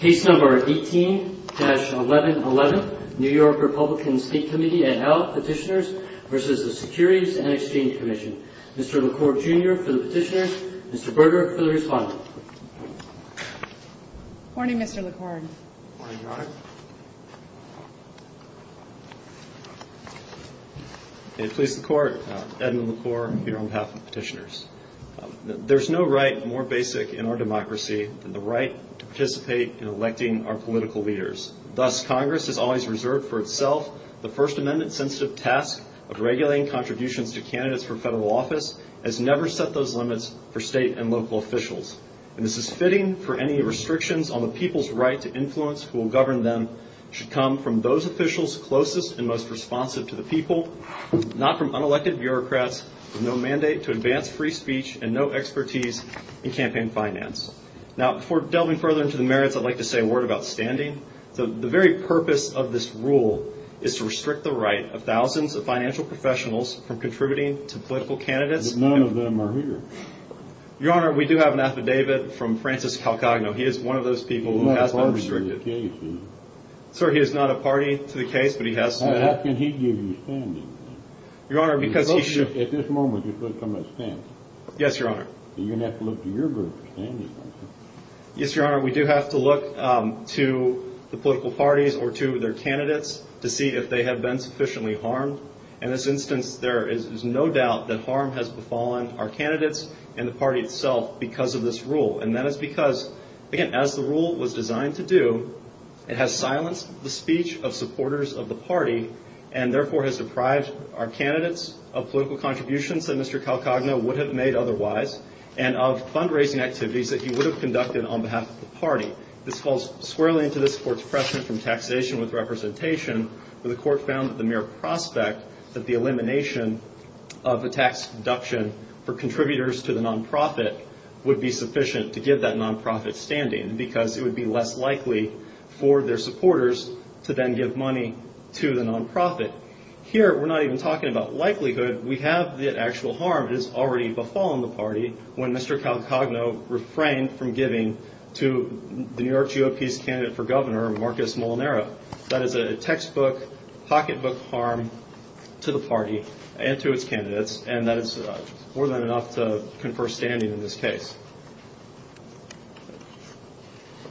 18-1111, New York Republican State Committee, et al. Petitioners v. the Securities and Exchange Commission. Mr. LaCour, Jr. for the Petitioners. Mr. Berger for the Respondents. Good morning, Mr. LaCour. Good morning, Your Honor. May it please the Court, Edmund LaCour, here on behalf of the Petitioners. There is no right more basic in our democracy than the right to participate in electing our political leaders. Thus, Congress has always reserved for itself the First Amendment-sensitive task of regulating contributions to candidates for federal office, as never set those limits for state and local officials. And this is fitting for any restrictions on the people's right to influence who will govern them should come from those officials closest and most responsive to the people, not from unelected bureaucrats with no mandate to advance free speech and no expertise in campaign finance. Now, before delving further into the merits, I'd like to say a word about standing. The very purpose of this rule is to restrict the right of thousands of financial professionals from contributing to political candidates. None of them are here. Your Honor, we do have an affidavit from Francis Calcagno. He is one of those people who has been restricted. Sir, he is not a party to the case, but he has. How can he give you standing? Your Honor, because he should. At this moment, you're supposed to come and stand. Yes, Your Honor. You're going to have to look to your group for standing. Yes, Your Honor. We do have to look to the political parties or to their candidates to see if they have been sufficiently harmed. In this instance, there is no doubt that harm has befallen our candidates and the party itself because of this rule. And that is because, again, as the rule was designed to do, it has silenced the speech of supporters of the party and therefore has deprived our candidates of political contributions that Mr. Calcagno would have made otherwise and of fundraising activities that he would have conducted on behalf of the party. This falls squarely into this Court's precedent from taxation with representation, where the Court found that the mere prospect that the elimination of a tax deduction for contributors to the nonprofit would be sufficient to give that nonprofit standing because it would be less likely for their supporters to then give money to the nonprofit. Here, we're not even talking about likelihood. We have the actual harm that has already befallen the party when Mr. Calcagno refrained from giving to the New York GOP's candidate for governor, Marcus Molinaro. That is a textbook, pocketbook harm to the party and to its candidates, and that is more than enough to confer standing in this case.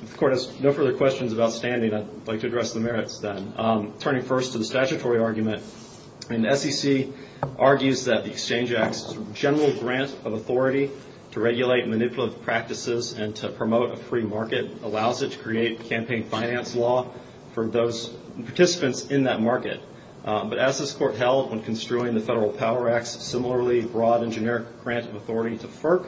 If the Court has no further questions about standing, I'd like to address the merits then. Turning first to the statutory argument, the SEC argues that the Exchange Act's general grant of authority to regulate manipulative practices and to promote a free market allows it to create campaign finance law for those participants in that market. But as this Court held when construing the Federal Power Act's similarly broad and generic grant of authority to FERC,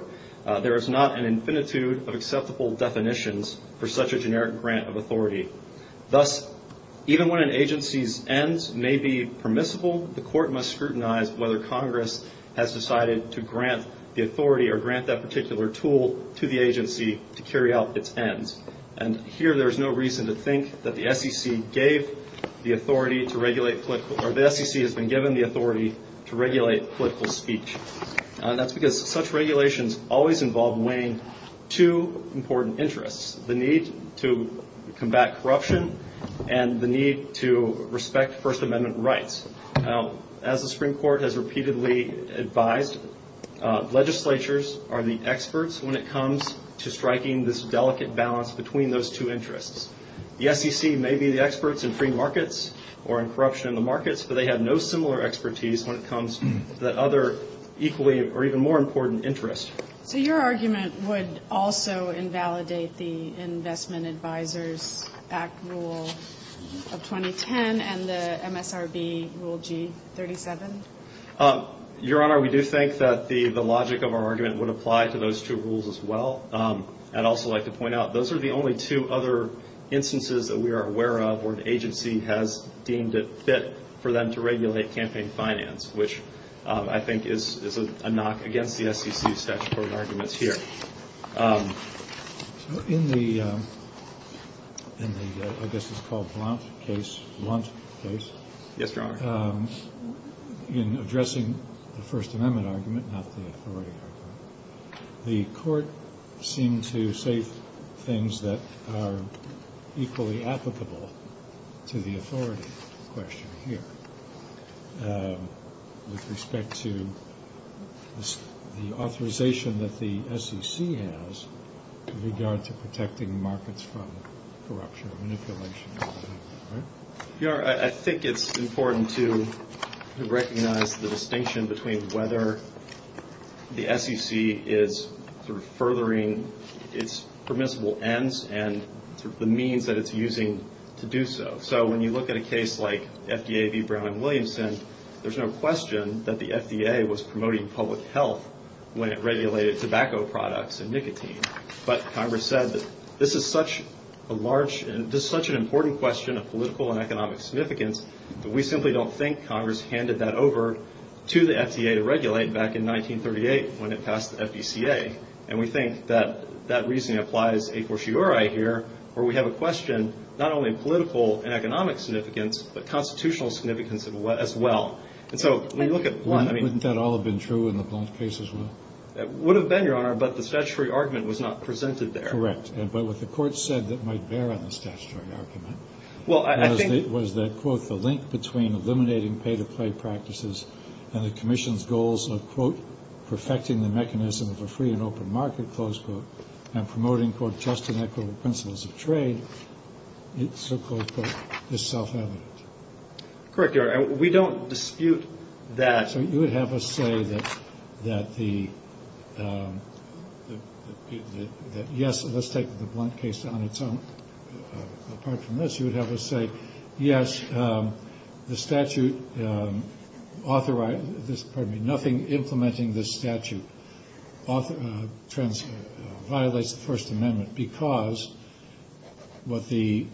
there is not an infinitude of acceptable definitions for such a generic grant of authority. Thus, even when an agency's ends may be permissible, the Court must scrutinize whether Congress has decided to grant the authority or grant that particular tool to the agency to carry out its ends. Here, there is no reason to think that the SEC has been given the authority to regulate political speech. That's because such regulations always involve weighing two important interests, the need to combat corruption and the need to respect First Amendment rights. As the Supreme Court has repeatedly advised, legislatures are the experts when it comes to striking this delicate balance between those two interests. The SEC may be the experts in free markets or in corruption in the markets, but they have no similar expertise when it comes to the other equally or even more important interests. So your argument would also invalidate the Investment Advisors Act Rule of 2010 and the MSRB Rule G37? Your Honor, we do think that the logic of our argument would apply to those two rules as well. I'd also like to point out those are the only two other instances that we are aware of where an agency has deemed it fit for them to regulate campaign finance, which I think is a knock against the SEC's statutory arguments here. In the, I guess it's called Blount case, Blount case, Yes, Your Honor. in addressing the First Amendment argument, not the authority argument, the Court seemed to say things that are equally applicable to the authority question here with respect to the authorization that the SEC has with regard to protecting markets from corruption and manipulation. Your Honor, I think it's important to recognize the distinction between whether the SEC is furthering its permissible ends and the means that it's using to do so. So when you look at a case like FDA v. Brown and Williamson, there's no question that the FDA was promoting public health when it regulated tobacco products and nicotine. But Congress said that this is such a large, this is such an important question of political and economic significance that we simply don't think Congress handed that over to the FDA to regulate back in 1938 when it passed the FDCA. And we think that that reasoning applies a fortiori here where we have a question not only of political and economic significance, but constitutional significance as well. And so when you look at Blount, I mean, Wouldn't that all have been true in the Blount case as well? It would have been, Your Honor, but the statutory argument was not presented there. Correct. But what the Court said that might bear on the statutory argument was that, quote, the link between eliminating pay-to-play practices and the Commission's goals of, quote, perfecting the mechanism of a free and open market, close quote, and promoting, quote, just and equitable principles of trade, so close quote, is self-evident. Correct, Your Honor. We don't dispute that. So you would have us say that, yes, let's take the Blount case on its own. Apart from this, you would have us say, yes, the statute authorizes this. Pardon me. Nothing implementing this statute violates the First Amendment because what the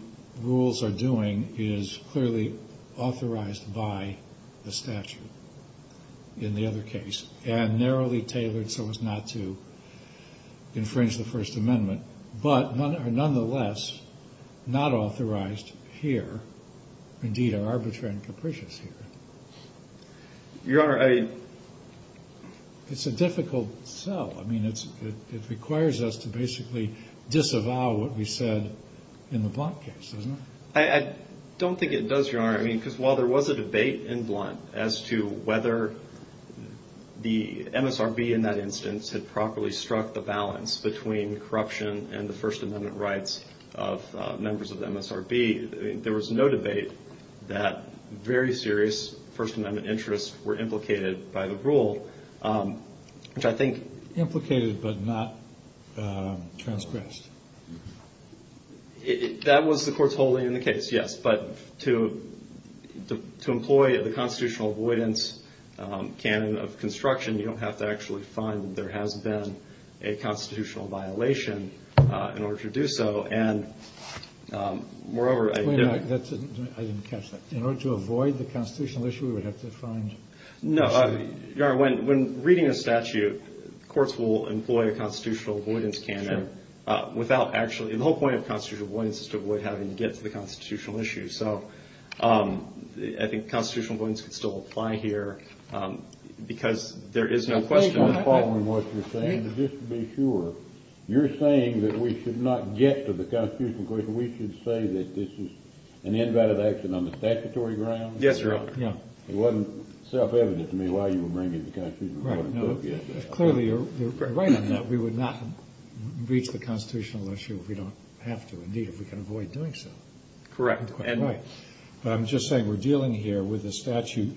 rules are doing is clearly authorized by the statute in the other case and narrowly tailored so as not to infringe the First Amendment, but are nonetheless not authorized here, indeed are arbitrary and capricious here. Your Honor, I... It's a difficult sell. I mean, it requires us to basically disavow what we said in the Blount case, doesn't it? I don't think it does, Your Honor, because while there was a debate in Blount as to whether the MSRB in that instance had properly struck the balance between corruption and the First Amendment rights of members of the MSRB, there was no debate that very serious First Amendment interests were implicated by the rule, which I think... Implicated but not transgressed. That was the Court's holding in the case, yes, but to employ the constitutional avoidance canon of construction, you don't have to actually find that there has been a constitutional violation in order to do so, and moreover... Wait a minute. I didn't catch that. In order to avoid the constitutional issue, we would have to find... No, Your Honor, when reading a statute, courts will employ a constitutional avoidance canon without actually... The whole point of constitutional avoidance is to avoid having to get to the constitutional issue, so I think constitutional avoidance could still apply here because there is no question... I'm following what you're saying, but just to be sure, you're saying that we should not get to the constitutional question. We should say that this is an invalid action on the statutory ground? Yes, Your Honor. It wasn't self-evident to me why you were bringing the constitutional avoidance up. Clearly, you're right on that. We would not reach the constitutional issue if we don't have to, indeed, if we can avoid doing so. Correct. Right. But I'm just saying we're dealing here with a statute.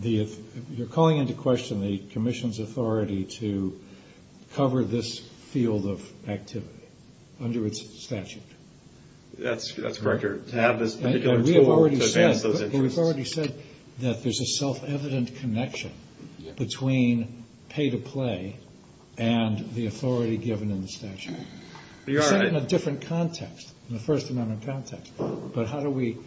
You're calling into question the Commission's authority to cover this field of activity under its statute. That's correct. We've already said that there's a self-evident connection between pay-to-play and the authority given in the statute. You're right. You said it in a different context, in the First Amendment context, but how do we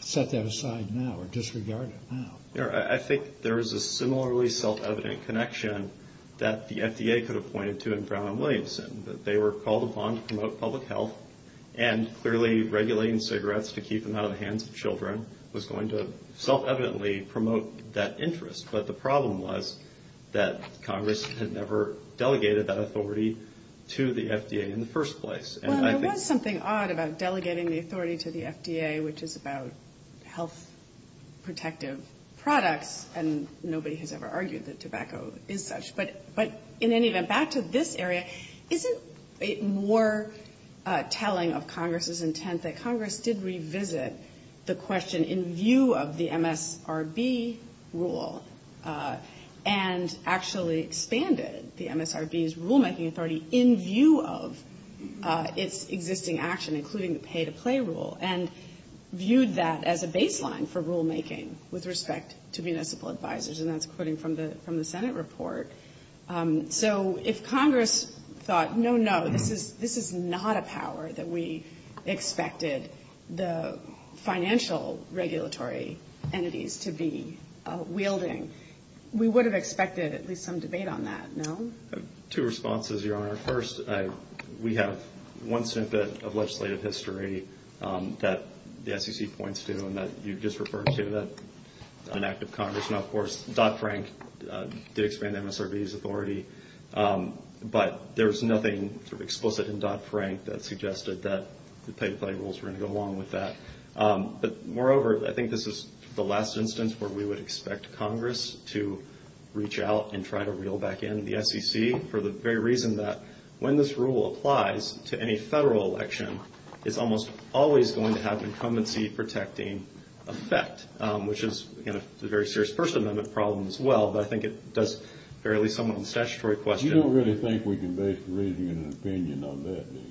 set that aside now or disregard it now? I think there is a similarly self-evident connection that the FDA could have pointed to in Brown and Williamson, that they were called upon to promote public health, and clearly regulating cigarettes to keep them out of the hands of children was going to self-evidently promote that interest. But the problem was that Congress had never delegated that authority to the FDA in the first place. Well, there was something odd about delegating the authority to the FDA, which is about health-protective products, and nobody has ever argued that tobacco is such. But in any event, back to this area, isn't it more telling of Congress's intent that Congress did revisit the question in view of the MSRB rule and actually expanded the MSRB's rulemaking authority in view of its existing action, including the pay-to-play rule, and viewed that as a baseline for rulemaking with respect to municipal advisors? And that's quoting from the Senate report. So if Congress thought, no, no, this is not a power that we expected the financial regulatory entities to be wielding, we would have expected at least some debate on that, no? Two responses, Your Honor. First, we have one snippet of legislative history that the SEC points to and that you just referred to, that an act of Congress. Now, of course, Dodd-Frank did expand MSRB's authority, but there was nothing explicit in Dodd-Frank that suggested that the pay-to-play rules were going to go along with that. But moreover, I think this is the last instance where we would expect Congress to reach out and try to reel back in the SEC for the very reason that when this rule applies to any federal election, it's almost always going to have an incumbency-protecting effect, which is, again, a very serious First Amendment problem as well, but I think it does bear at least some of the statutory question. You don't really think we can base the reasoning and opinion on that, do you?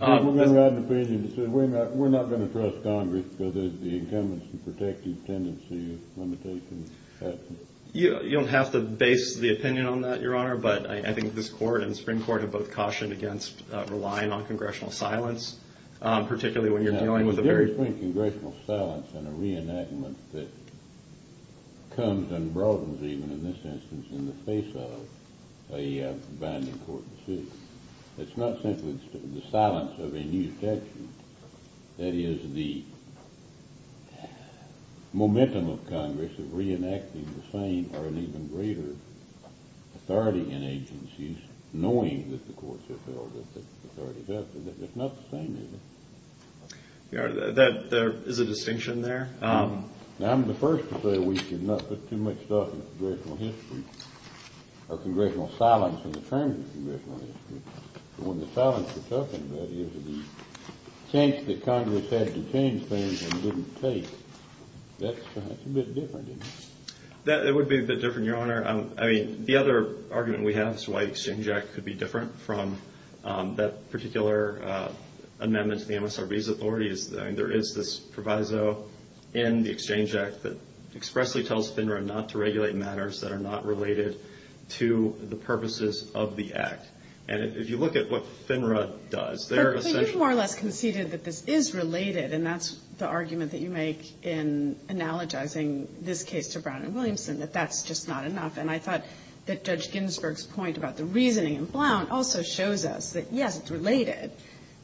I think we're going to have an opinion that says we're not going to trust Congress because of the incumbency-protecting tendency of limitations. You don't have to base the opinion on that, Your Honor, but I think this Court and the Supreme Court have both cautioned against relying on congressional silence, particularly when you're dealing with a very— Now, the difference between congressional silence and a reenactment that comes and broadens, even in this instance, in the face of a binding court decision, it's not simply the silence of a new statute. That is, the momentum of Congress of reenacting the same or an even greater authority in agencies, knowing that the courts have held that the authority is up there. It's not the same, is it? Your Honor, there is a distinction there. Now, I'm the first to say we should not put too much stuff in congressional history, or congressional silence in the terms of congressional history. When the silence is talking about it, it's the change that Congress had to change things and didn't take. That's a bit different, isn't it? That would be a bit different, Your Honor. I mean, the other argument we have as to why the Exchange Act could be different from that particular amendment to the MSRB's authority is there is this proviso in the Exchange Act that expressly tells FINRA not to regulate matters that are not related to the purposes of the Act. And if you look at what FINRA does, they're essentially — But you've more or less conceded that this is related, and that's the argument that you make in analogizing this case to Brown and Williamson, that that's just not enough. And I thought that Judge Ginsburg's point about the reasoning in Blount also shows us that, yes, it's related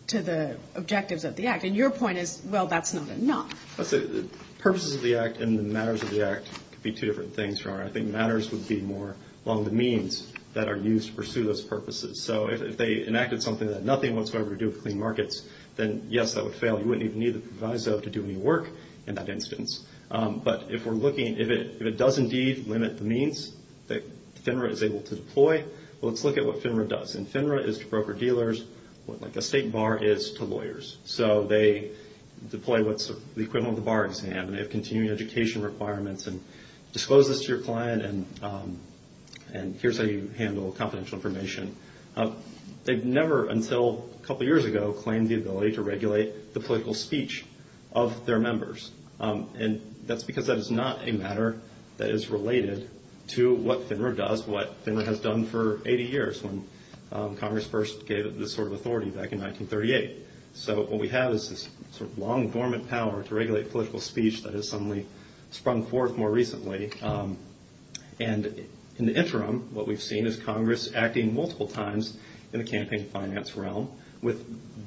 to the objectives of the Act. And your point is, well, that's not enough. The purposes of the Act and the matters of the Act could be two different things, Your Honor. I think matters would be more along the means that are used to pursue those purposes. So if they enacted something that had nothing whatsoever to do with clean markets, then, yes, that would fail. You wouldn't even need the proviso to do any work in that instance. But if we're looking — if it does indeed limit the means that FINRA is able to deploy, well, let's look at what FINRA does. And FINRA is to broker-dealers what, like, a state bar is to lawyers. So they deploy what's the equivalent of the bar exam. And they have continuing education requirements. And disclose this to your client, and here's how you handle confidential information. They've never until a couple years ago claimed the ability to regulate the political speech of their members. And that's because that is not a matter that is related to what FINRA does, what FINRA has done for 80 years when Congress first gave it this sort of authority back in 1938. So what we have is this sort of long, dormant power to regulate political speech that has suddenly sprung forth more recently. And in the interim, what we've seen is Congress acting multiple times in the campaign finance realm with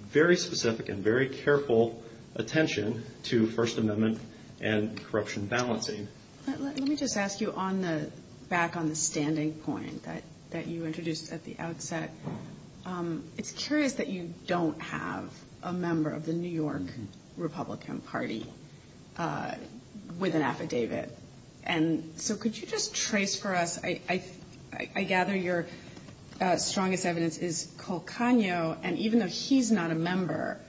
very specific and very careful attention to First Amendment and corruption balancing. Let me just ask you on the — back on the standing point that you introduced at the outset. It's curious that you don't have a member of the New York Republican Party with an affidavit. And so could you just trace for us — I gather your strongest evidence is Colcagno. And even though he's not a member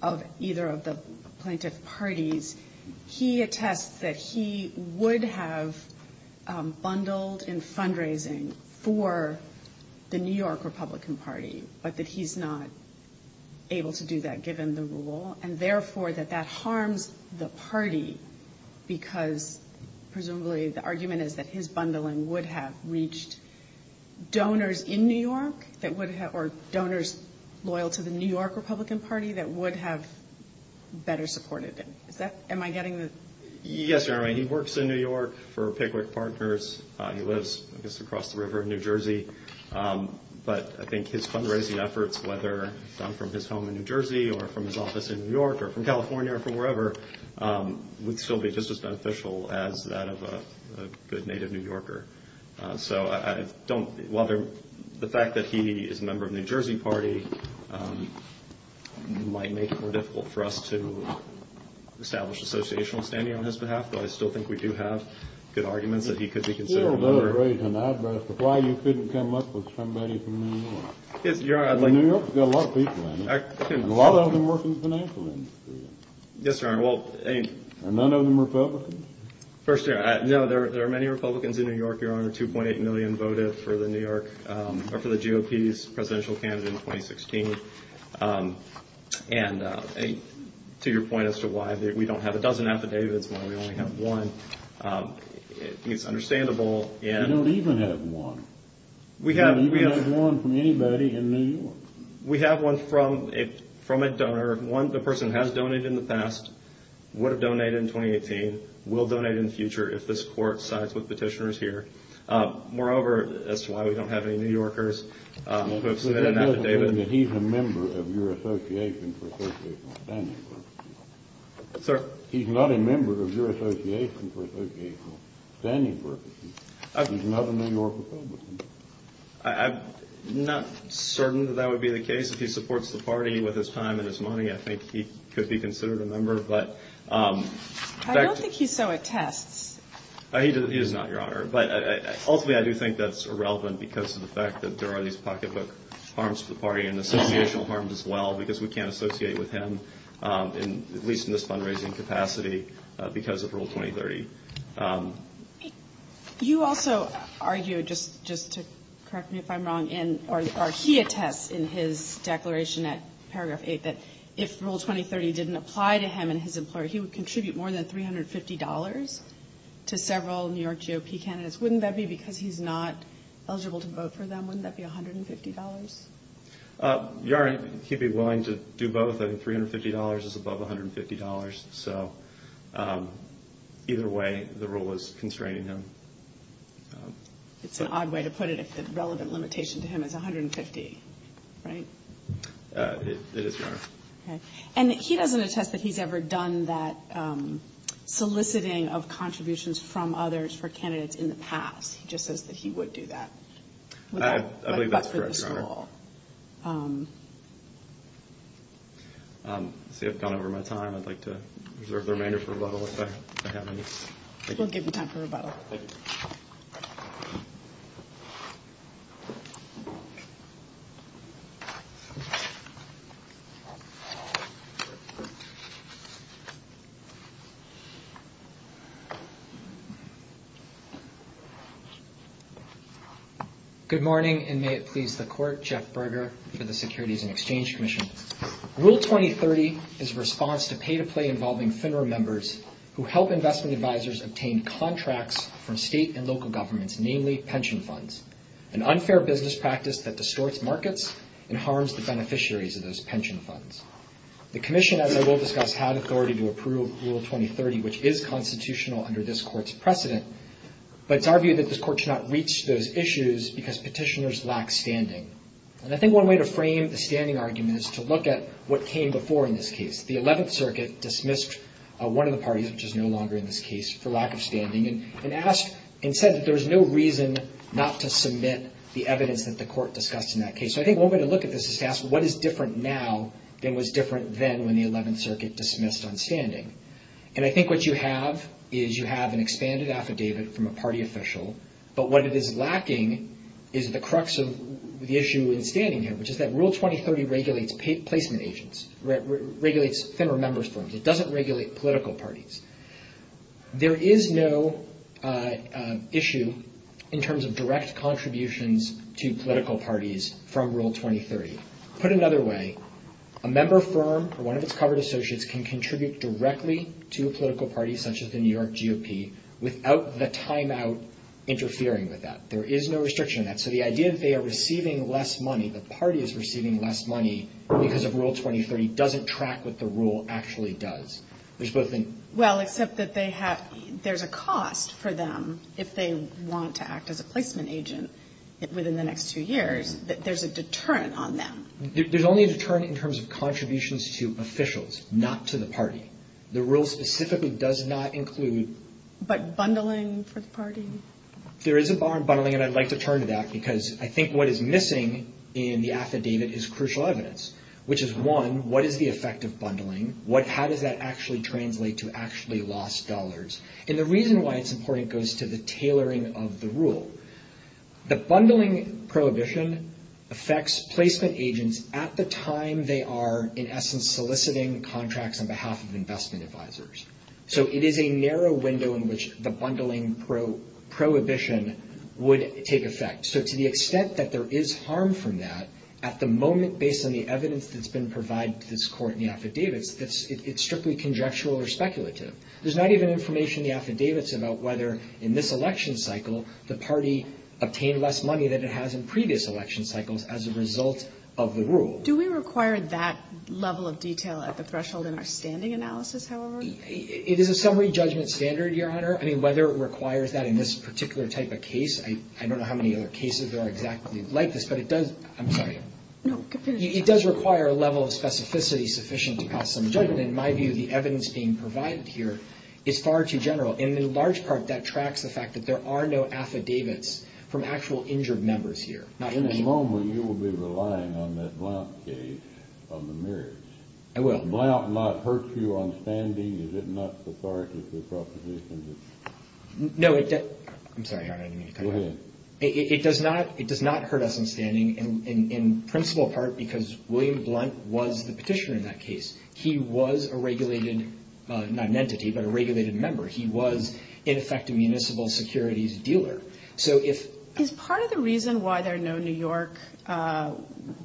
of either of the plaintiff parties, he attests that he would have bundled in fundraising for the New York Republican Party, but that he's not able to do that given the rule, and therefore that that harms the party, because presumably the argument is that his bundling would have reached donors in New York that would — or donors loyal to the New York Republican Party that would have better supported him. Is that — am I getting the — Yes, Your Honor. He works in New York for Pickwick Partners. He lives, I guess, across the river in New Jersey. But I think his fundraising efforts, whether done from his home in New Jersey or from his office in New York or from California or from wherever, would still be just as beneficial as that of a good native New Yorker. So I don't — while the fact that he is a member of the New Jersey party might make it more difficult for us to establish an associational standing on his behalf, but I still think we do have good arguments that he could be considered a member — You don't need to raise an eyebrow as to why you couldn't come up with somebody from New York. Yes, Your Honor, I'd like — New York's got a lot of people in it, and a lot of them work in the financial industry. Yes, Your Honor, well — And none of them are Republicans? First, Your Honor, no, there are many Republicans in New York, Your Honor. 2.8 million voted for the New York — or for the GOP's presidential candidate in 2016. And to your point as to why we don't have a dozen affidavits, why we only have one, it's understandable, and — You don't even have one. You don't even have one from anybody in New York. We have one from a donor. One, the person has donated in the past, would have donated in 2018, will donate in the future if this court sides with petitioners here. Moreover, as to why we don't have any New Yorkers who have submitted an affidavit — But that doesn't mean that he's a member of your association for associational standing purposes. Sir? He's not a member of your association for associational standing purposes. He's not a New York Republican. I'm not certain that that would be the case. If he supports the party with his time and his money, I think he could be considered a member, but — He does not, Your Honor. But ultimately, I do think that's irrelevant because of the fact that there are these pocketbook harms to the party, and associational harms as well, because we can't associate with him, at least in this fundraising capacity, because of Rule 2030. You also argue, just to correct me if I'm wrong, or he attests in his declaration at paragraph 8 that if Rule 2030 didn't apply to him and his employer, he would contribute more than $350 to several New York GOP candidates. Wouldn't that be because he's not eligible to vote for them? Wouldn't that be $150? Your Honor, he'd be willing to do both. I think $350 is above $150. So either way, the rule is constraining him. It's an odd way to put it if the relevant limitation to him is $150, right? It is, Your Honor. Okay. And he doesn't attest that he's ever done that soliciting of contributions from others for candidates in the past. He just says that he would do that. I believe that's correct, Your Honor. I see I've gone over my time. I'd like to reserve the remainder for rebuttal if I have any. We'll give you time for rebuttal. Thank you. Thank you. Good morning, and may it please the Court. Jeff Berger for the Securities and Exchange Commission. Rule 2030 is a response to pay-to-play involving FINRA members who help investment advisors obtain contracts from state and local governments, namely pension funds, an unfair business practice that distorts markets and harms the beneficiaries of those pension funds. The Commission, as I will discuss, had authority to approve Rule 2030, which is constitutional under this Court's precedent, but it's our view that this Court should not reach those issues because petitioners lack standing. And I think one way to frame the standing argument is to look at what came before in this case. The 11th Circuit dismissed one of the parties, which is no longer in this case, for lack of standing and said that there's no reason not to submit the evidence that the Court discussed in that case. So I think one way to look at this is to ask, what is different now than was different then when the 11th Circuit dismissed on standing? And I think what you have is you have an expanded affidavit from a party official, but what it is lacking is the crux of the issue in standing here, which is that Rule 2030 regulates placement agents, regulates FINRA members firms. It doesn't regulate political parties. There is no issue in terms of direct contributions to political parties from Rule 2030. Put another way, a member firm or one of its covered associates can contribute directly to a political party, such as the New York GOP, without the timeout interfering with that. There is no restriction on that. So the idea that they are receiving less money, the party is receiving less money because of Rule 2030 doesn't track what the rule actually does. Well, except that there's a cost for them if they want to act as a placement agent within the next two years. There's a deterrent on them. There's only a deterrent in terms of contributions to officials, not to the party. The rule specifically does not include... But bundling for the party? There is a bar on bundling, and I'd like to turn to that, because I think what is missing in the affidavit is crucial evidence, which is, one, what is the effect of bundling? How does that actually translate to actually lost dollars? And the reason why it's important goes to the tailoring of the rule. The bundling prohibition affects placement agents at the time they are, in essence, soliciting contracts on behalf of investment advisors. So it is a narrow window in which the bundling prohibition would take effect. So to the extent that there is harm from that, at the moment, based on the evidence that's been provided to this Court in the affidavits, it's strictly conjectural or speculative. There's not even information in the affidavits about whether, in this election cycle, the party obtained less money than it has in previous election cycles as a result of the rule. Do we require that level of detail at the threshold in our standing analysis, however? It is a summary judgment standard, Your Honor. I mean, whether it requires that in this particular type of case, I don't know how many other cases there are exactly like this, but it does. I'm sorry. No, continue. It does require a level of specificity sufficient to pass some judgment. In my view, the evidence being provided here is far too general. And in large part, that tracks the fact that there are no affidavits from actual injured members here. In a moment, you will be relying on that Blount case on the merits. I will. Does Blount not hurt you on standing? Is it not cathartic, the proposition that? No, it does. I'm sorry, Your Honor. Go ahead. It does not. It does not hurt us on standing in principal part because William Blount was the petitioner in that case. He was a regulated, not an entity, but a regulated member. He was, in effect, a municipal securities dealer. So if. Is part of the reason why there are no New York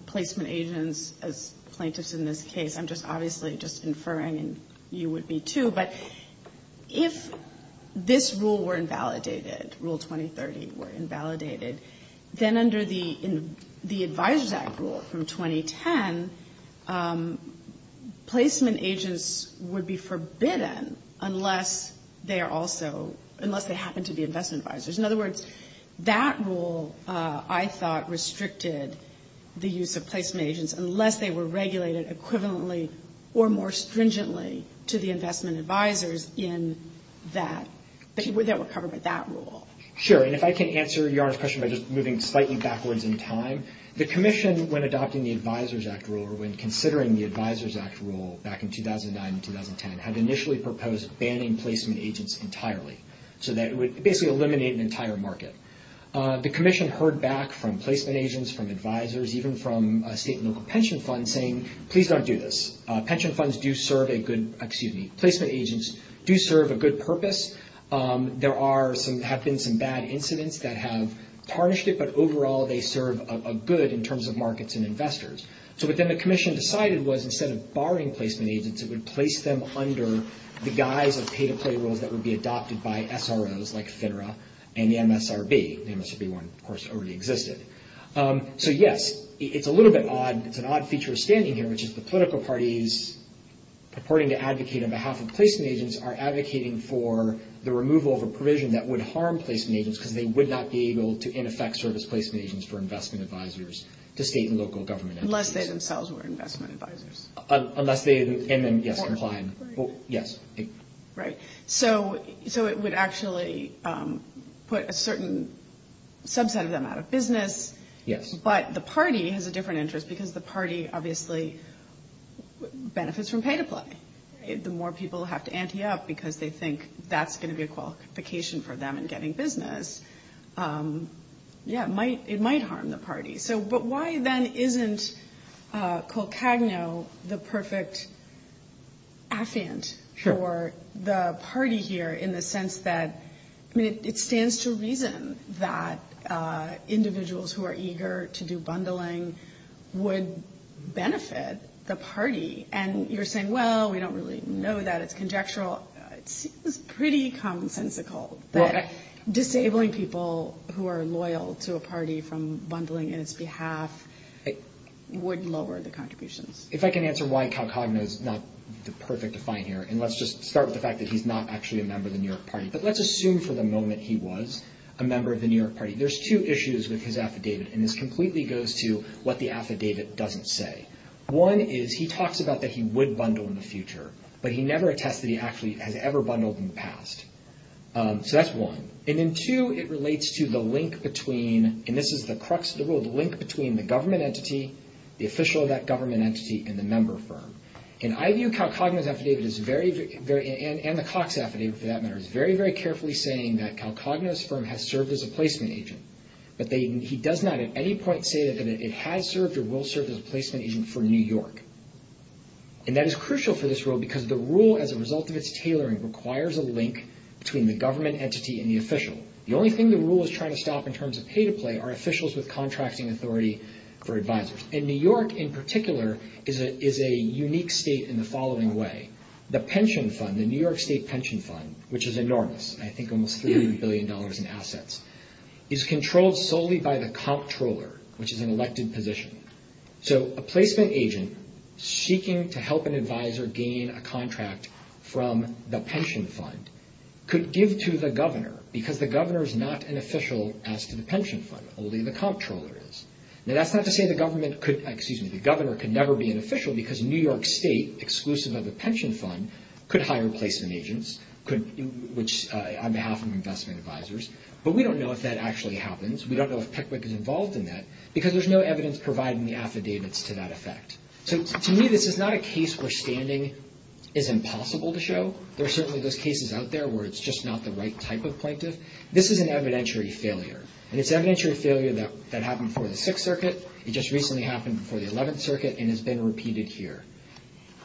placement agents as plaintiffs in this case, I'm just obviously just inferring and you would be too, but if this rule were invalidated, Rule 2030 were invalidated, then under the Advisors Act rule from 2010, placement agents would be forbidden unless they are also, unless they happen to be investment advisors. In other words, that rule, I thought, restricted the use of placement agents unless they were regulated equivalently or more stringently to the investment advisors in that, that were covered by that rule. Sure, and if I can answer Your Honor's question by just moving slightly backwards in time, the commission, when adopting the Advisors Act rule, or when considering the Advisors Act rule back in 2009 and 2010, had initially proposed banning placement agents entirely so that it would basically eliminate an entire market. The commission heard back from placement agents, from advisors, even from state and local pension funds saying, please don't do this. Pension funds do serve a good, excuse me, placement agents do serve a good purpose. There are some, have been some bad incidents that have tarnished it, but overall they serve a good in terms of markets and investors. So what then the commission decided was instead of barring placement agents, it would place them under the guise of pay-to-play rules that would be adopted by SROs like FINRA and the MSRB. The MSRB one, of course, already existed. So yes, it's a little bit odd. It's an odd feature of standing here, which is the political parties purporting to advocate on behalf of placement agents are advocating for the removal of a provision that would harm placement agents because they would not be able to in effect serve as placement agents for investment advisors to state and local government agencies. Unless they themselves were investment advisors. Unless they, and then yes, complying. Right. So it would actually put a certain subset of them out of business. Yes. But the party has a different interest because the party obviously benefits from pay-to-play. The more people have to ante up because they think that's going to be a qualification for them in getting business, yeah, it might harm the party. So but why then isn't Colcagno the perfect affiant for the party here in the sense that, I mean, it stands to reason that individuals who are eager to do bundling would benefit the party. And you're saying, well, we don't really know that. It's conjectural. Well, it's pretty commonsensical that disabling people who are loyal to a party from bundling in its behalf would lower the contributions. If I can answer why Colcagno is not the perfect affiant here, and let's just start with the fact that he's not actually a member of the New York party. But let's assume for the moment he was a member of the New York party. There's two issues with his affidavit, and this completely goes to what the affidavit doesn't say. One is he talks about that he would bundle in the future, but he never attests that he actually has ever bundled in the past. So that's one. And then two, it relates to the link between, and this is the crux of the world, the link between the government entity, the official of that government entity, and the member firm. And I view Colcagno's affidavit as very, and the Cox affidavit for that matter, as very, very carefully saying that Colcagno's firm has served as a placement agent. But he does not at any point say that it has served or will serve as a placement agent for New York. And that is crucial for this rule because the rule, as a result of its tailoring, requires a link between the government entity and the official. The only thing the rule is trying to stop in terms of pay-to-play are officials with contracting authority for advisors. And New York, in particular, is a unique state in the following way. The pension fund, the New York State pension fund, which is enormous, I think almost $30 billion in assets, is controlled solely by the comptroller, which is an elected position. So a placement agent seeking to help an advisor gain a contract from the pension fund could give to the governor because the governor is not an official as to the pension fund, only the comptroller is. Now, that's not to say the government could, excuse me, the governor could never be an official because New York State, exclusive of the pension fund, could hire placement agents, on behalf of investment advisors. But we don't know if that actually happens. We don't know if Pickwick is involved in that because there's no evidence providing the affidavits to that effect. So to me, this is not a case where standing is impossible to show. There are certainly those cases out there where it's just not the right type of plaintiff. This is an evidentiary failure, and it's an evidentiary failure that happened before the Sixth Circuit. It just recently happened before the Eleventh Circuit and has been repeated here.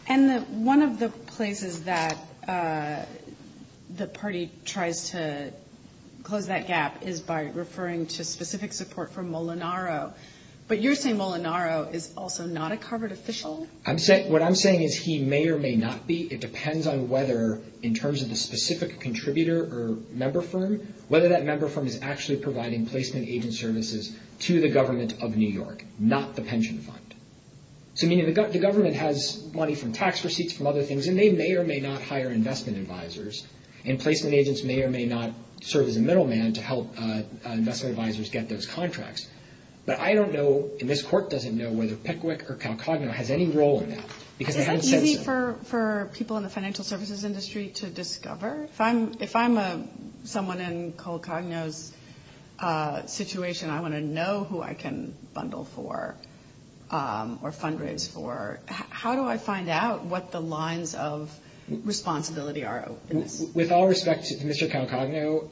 And one of the places that the party tries to close that gap is by referring to specific support for Molinaro. But you're saying Molinaro is also not a covered official? What I'm saying is he may or may not be. It depends on whether, in terms of the specific contributor or member firm, whether that member firm is actually providing placement agent services to the government of New York, not the pension fund. So, I mean, the government has money from tax receipts, from other things, and they may or may not hire investment advisors, and placement agents may or may not serve as a middleman to help investment advisors get those contracts. But I don't know, and this Court doesn't know, whether Pickwick or CalCogno has any role in that because they haven't said so. Is that easy for people in the financial services industry to discover? If I'm someone in CalCogno's situation, I want to know who I can bundle for or fundraise for. How do I find out what the lines of responsibility are? With all respect to Mr. CalCogno,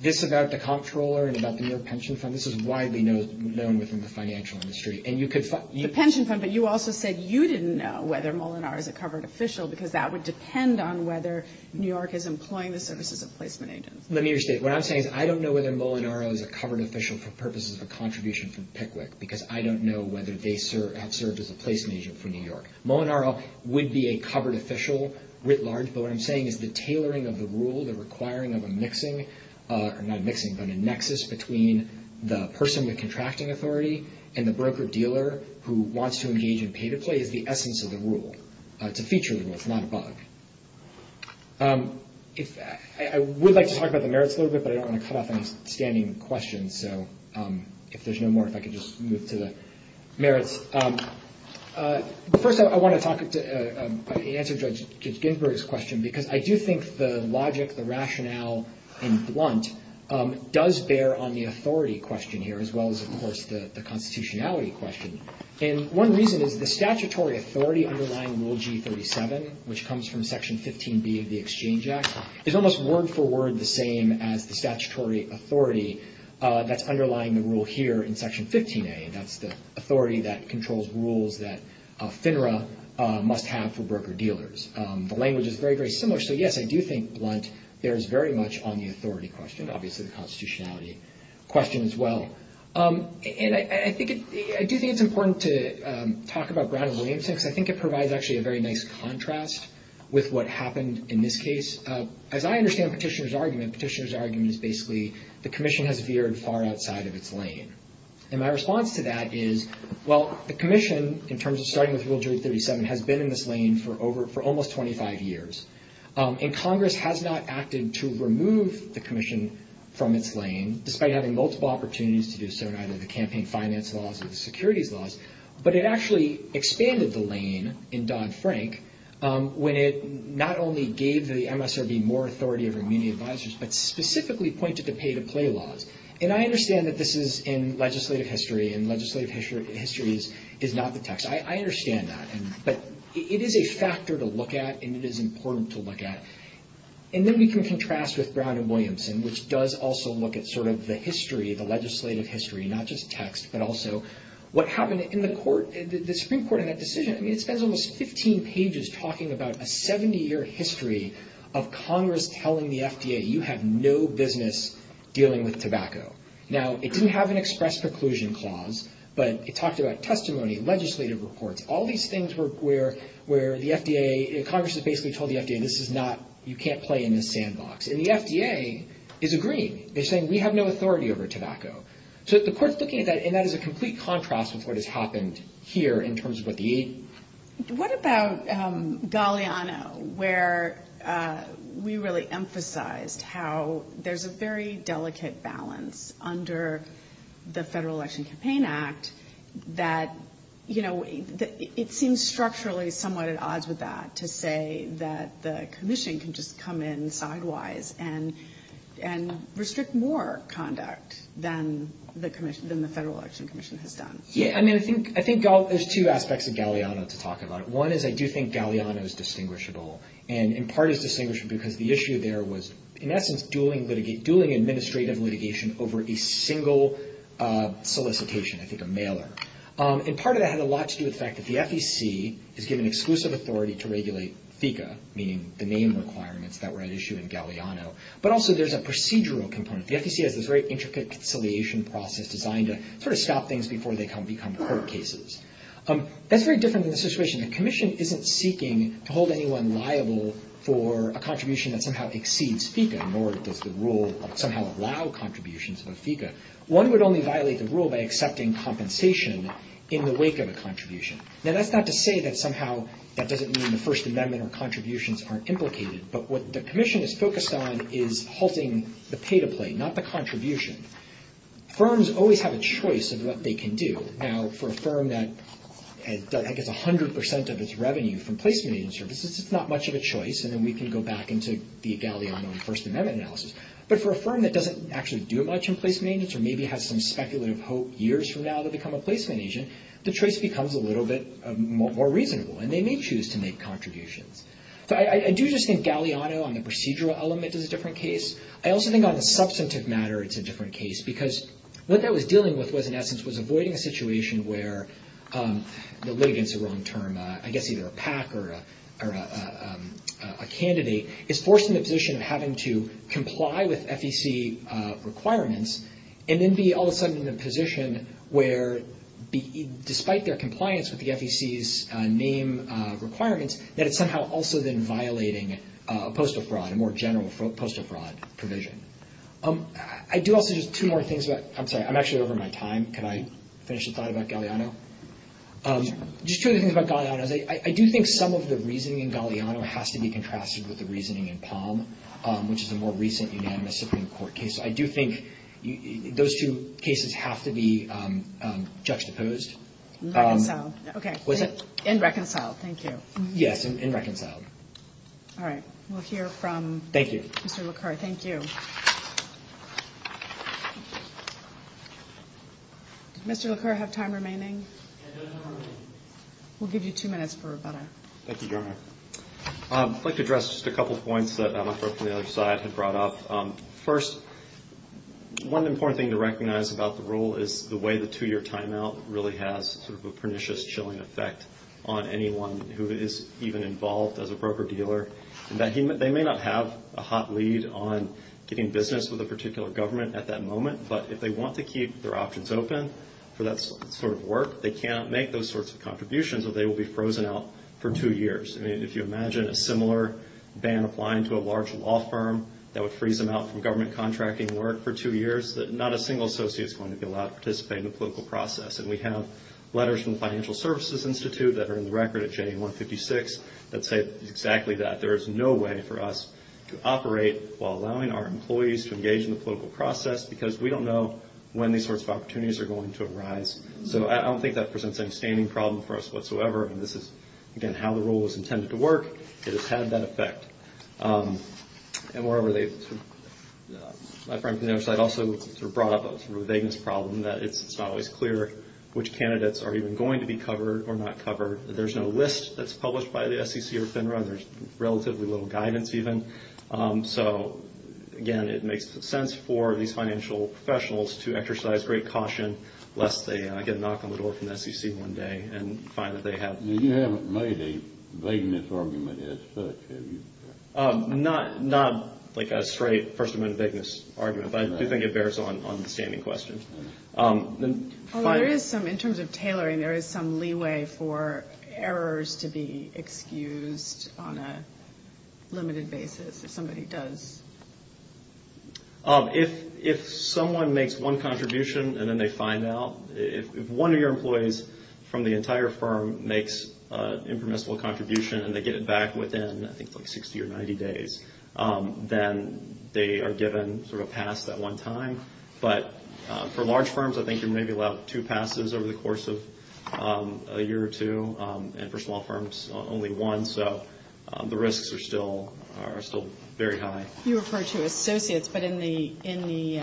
this about the comptroller and about the New York pension fund, this is widely known within the financial industry. The pension fund, but you also said you didn't know whether Molinaro is a covered official because that would depend on whether New York is employing the services of placement agents. Let me restate. What I'm saying is I don't know whether Molinaro is a covered official for purposes of a contribution from Pickwick because I don't know whether they have served as a placement agent for New York. Molinaro would be a covered official writ large, but what I'm saying is the tailoring of the rule, the requiring of a mixing, or not a mixing, but a nexus between the person with contracting authority and the broker-dealer who wants to engage in pay-to-play is the essence of the rule. It's a feature rule. It's not a bug. I would like to talk about the merits a little bit, but I don't want to cut off any standing questions. If there's no more, if I could just move to the merits. First, I want to answer Judge Ginsburg's question because I do think the logic, the rationale, in Blunt does bear on the authority question here as well as, of course, the constitutionality question. And one reason is the statutory authority underlying Rule G37, which comes from Section 15B of the Exchange Act, is almost word-for-word the same as the statutory authority that's underlying the rule here in Section 15A. That's the authority that controls rules that FINRA must have for broker-dealers. The language is very, very similar. So, yes, I do think Blunt bears very much on the authority question, obviously the constitutionality question as well. And I do think it's important to talk about Brown v. Williamson because I think it provides actually a very nice contrast with what happened in this case. As I understand Petitioner's argument, Petitioner's argument is basically the commission has veered far outside of its lane. And my response to that is, well, the commission, in terms of starting with Rule G37, has been in this lane for almost 25 years. And Congress has not acted to remove the commission from its lane, despite having multiple opportunities to do so in either the campaign finance laws or the securities laws. But it actually expanded the lane in Don Frank when it not only gave the MSRB more authority over community advisors, but specifically pointed to pay-to-play laws. And I understand that this is in legislative history, and legislative history is not the text. I understand that, but it is a factor to look at, and it is important to look at. And then we can contrast with Brown v. Williamson, which does also look at sort of the history, the legislative history, not just text, but also what happened in the Supreme Court in that decision. I mean, it spends almost 15 pages talking about a 70-year history of Congress telling the FDA, you have no business dealing with tobacco. Now, it didn't have an express preclusion clause, but it talked about testimony, legislative reports, all these things where the FDA, Congress has basically told the FDA, this is not, you can't play in this sandbox. And the FDA is agreeing. They're saying, we have no authority over tobacco. So the court's looking at that, and that is a complete contrast with what has happened here in terms of what the aid. What about Galeano, where we really emphasized how there's a very delicate balance under the Federal Election Campaign Act that, you know, it seems structurally somewhat at odds with that to say that the commission can just come in sidewise and restrict more conduct than the commission, than the Federal Election Commission has done. Yeah, I mean, I think there's two aspects of Galeano to talk about. One is I do think Galeano is distinguishable, and in part is distinguishable because the issue there was, in essence, dueling administrative litigation over a single solicitation, I think a mailer. And part of that had a lot to do with the fact that the FEC is given exclusive authority to regulate FECA, meaning the name requirements that were at issue in Galeano. But also there's a procedural component. The FEC has this very intricate conciliation process designed to sort of stop things before they become court cases. That's very different in this situation. The commission isn't seeking to hold anyone liable for a contribution that somehow exceeds FECA, nor does the rule somehow allow contributions of a FECA. One would only violate the rule by accepting compensation in the wake of a contribution. Now, that's not to say that somehow that doesn't mean the First Amendment or contributions aren't implicated, but what the commission is focused on is halting the pay-to-play, not the contribution. Firms always have a choice of what they can do. Now, for a firm that gets 100 percent of its revenue from placement agency services, it's not much of a choice, and then we can go back into the Galeano and First Amendment analysis. But for a firm that doesn't actually do much in placement agents or maybe has some speculative hope years from now to become a placement agent, the choice becomes a little bit more reasonable, and they may choose to make contributions. I do just think Galeano on the procedural element is a different case. I also think on the substantive matter it's a different case because what that was dealing with was, in essence, was avoiding a situation where the litigant's a wrong term, I guess either a PAC or a candidate, is forced into a position of having to comply with FEC requirements and then be all of a sudden in a position where, despite their compliance with the FEC's name requirements, that it's somehow also then violating a postal fraud, a more general postal fraud provision. I do also just two more things about — I'm sorry, I'm actually over my time. Can I finish a thought about Galeano? Just two other things about Galeano. I do think some of the reasoning in Galeano has to be contrasted with the reasoning in Palm, which is a more recent unanimous Supreme Court case. I do think those two cases have to be juxtaposed. And reconciled, thank you. All right. We'll hear from Mr. Laqueur. Thank you. Mr. Laqueur, do you have time remaining? We'll give you two minutes for rebuttal. Thank you, Your Honor. I'd like to address just a couple of points that Emma from the other side had brought up. First, one important thing to recognize about the rule is the way the two-year timeout really has sort of a pernicious, chilling effect on anyone who is even involved as a broker-dealer. They may not have a hot lead on getting business with a particular government at that moment, but if they want to keep their options open for that sort of work, they cannot make those sorts of contributions or they will be frozen out for two years. I mean, if you imagine a similar ban applying to a large law firm that would freeze them out from government contracting work for two years, not a single associate is going to be allowed to participate in the political process. And we have letters from the Financial Services Institute that are in the record at JA156 that say exactly that. There is no way for us to operate while allowing our employees to engage in the political process, because we don't know when these sorts of opportunities are going to arise. So I don't think that presents any standing problem for us whatsoever. And this is, again, how the rule was intended to work. It has had that effect. My friend from the other side also brought up a vagueness problem that it's not always clear which candidates are even going to be covered or not covered. There's no list that's published by the SEC or FINRA. There's relatively little guidance even. So, again, it makes sense for these financial professionals to exercise great caution lest they get knocked on the door from the SEC one day and find that they have— You haven't made a vagueness argument as such, have you? Not like a straight first-amend vagueness argument, but I do think it bears on the standing question. There is some, in terms of tailoring, there is some leeway for errors to be excused on a limited basis, if somebody does. If someone makes one contribution and then they find out, if one of your employees from the entire firm makes an impermissible contribution and they get it back within, I think, 60 or 90 days, then they are given sort of a pass that one time. But for large firms, I think you're maybe allowed two passes over the course of a year or two. And for small firms, only one. So the risks are still very high. You refer to associates, but in the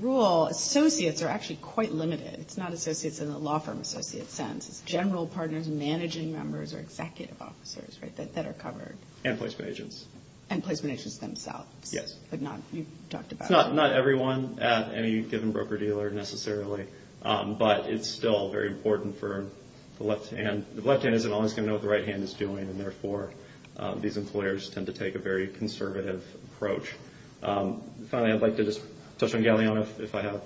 rule, associates are actually quite limited. It's not associates in a law firm associate sense. It's general partners, managing members, or executive officers that are covered. And placement agents. And placement agents themselves. Not everyone at any given broker-dealer necessarily, but it's still very important for the left hand. The left hand isn't always going to know what the right hand is doing, and therefore these employers tend to take a very conservative approach. Finally, I'd like to just touch on Galeano if I have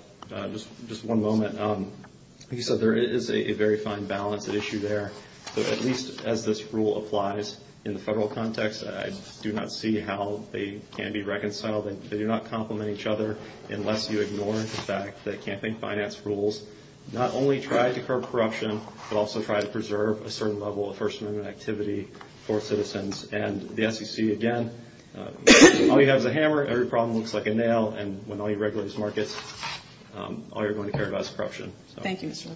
just one moment. Like you said, there is a very fine balance at issue there. At least as this rule applies in the federal context, I do not see how they can be reconciled. They do not complement each other unless you ignore the fact that campaign finance rules not only try to curb corruption, but also try to preserve a certain level of First Amendment activity for citizens. And the SEC again, all you have is a hammer, every problem looks like a nail, and when all you regulate is markets, all you're going to care about is corruption. Thank you so much.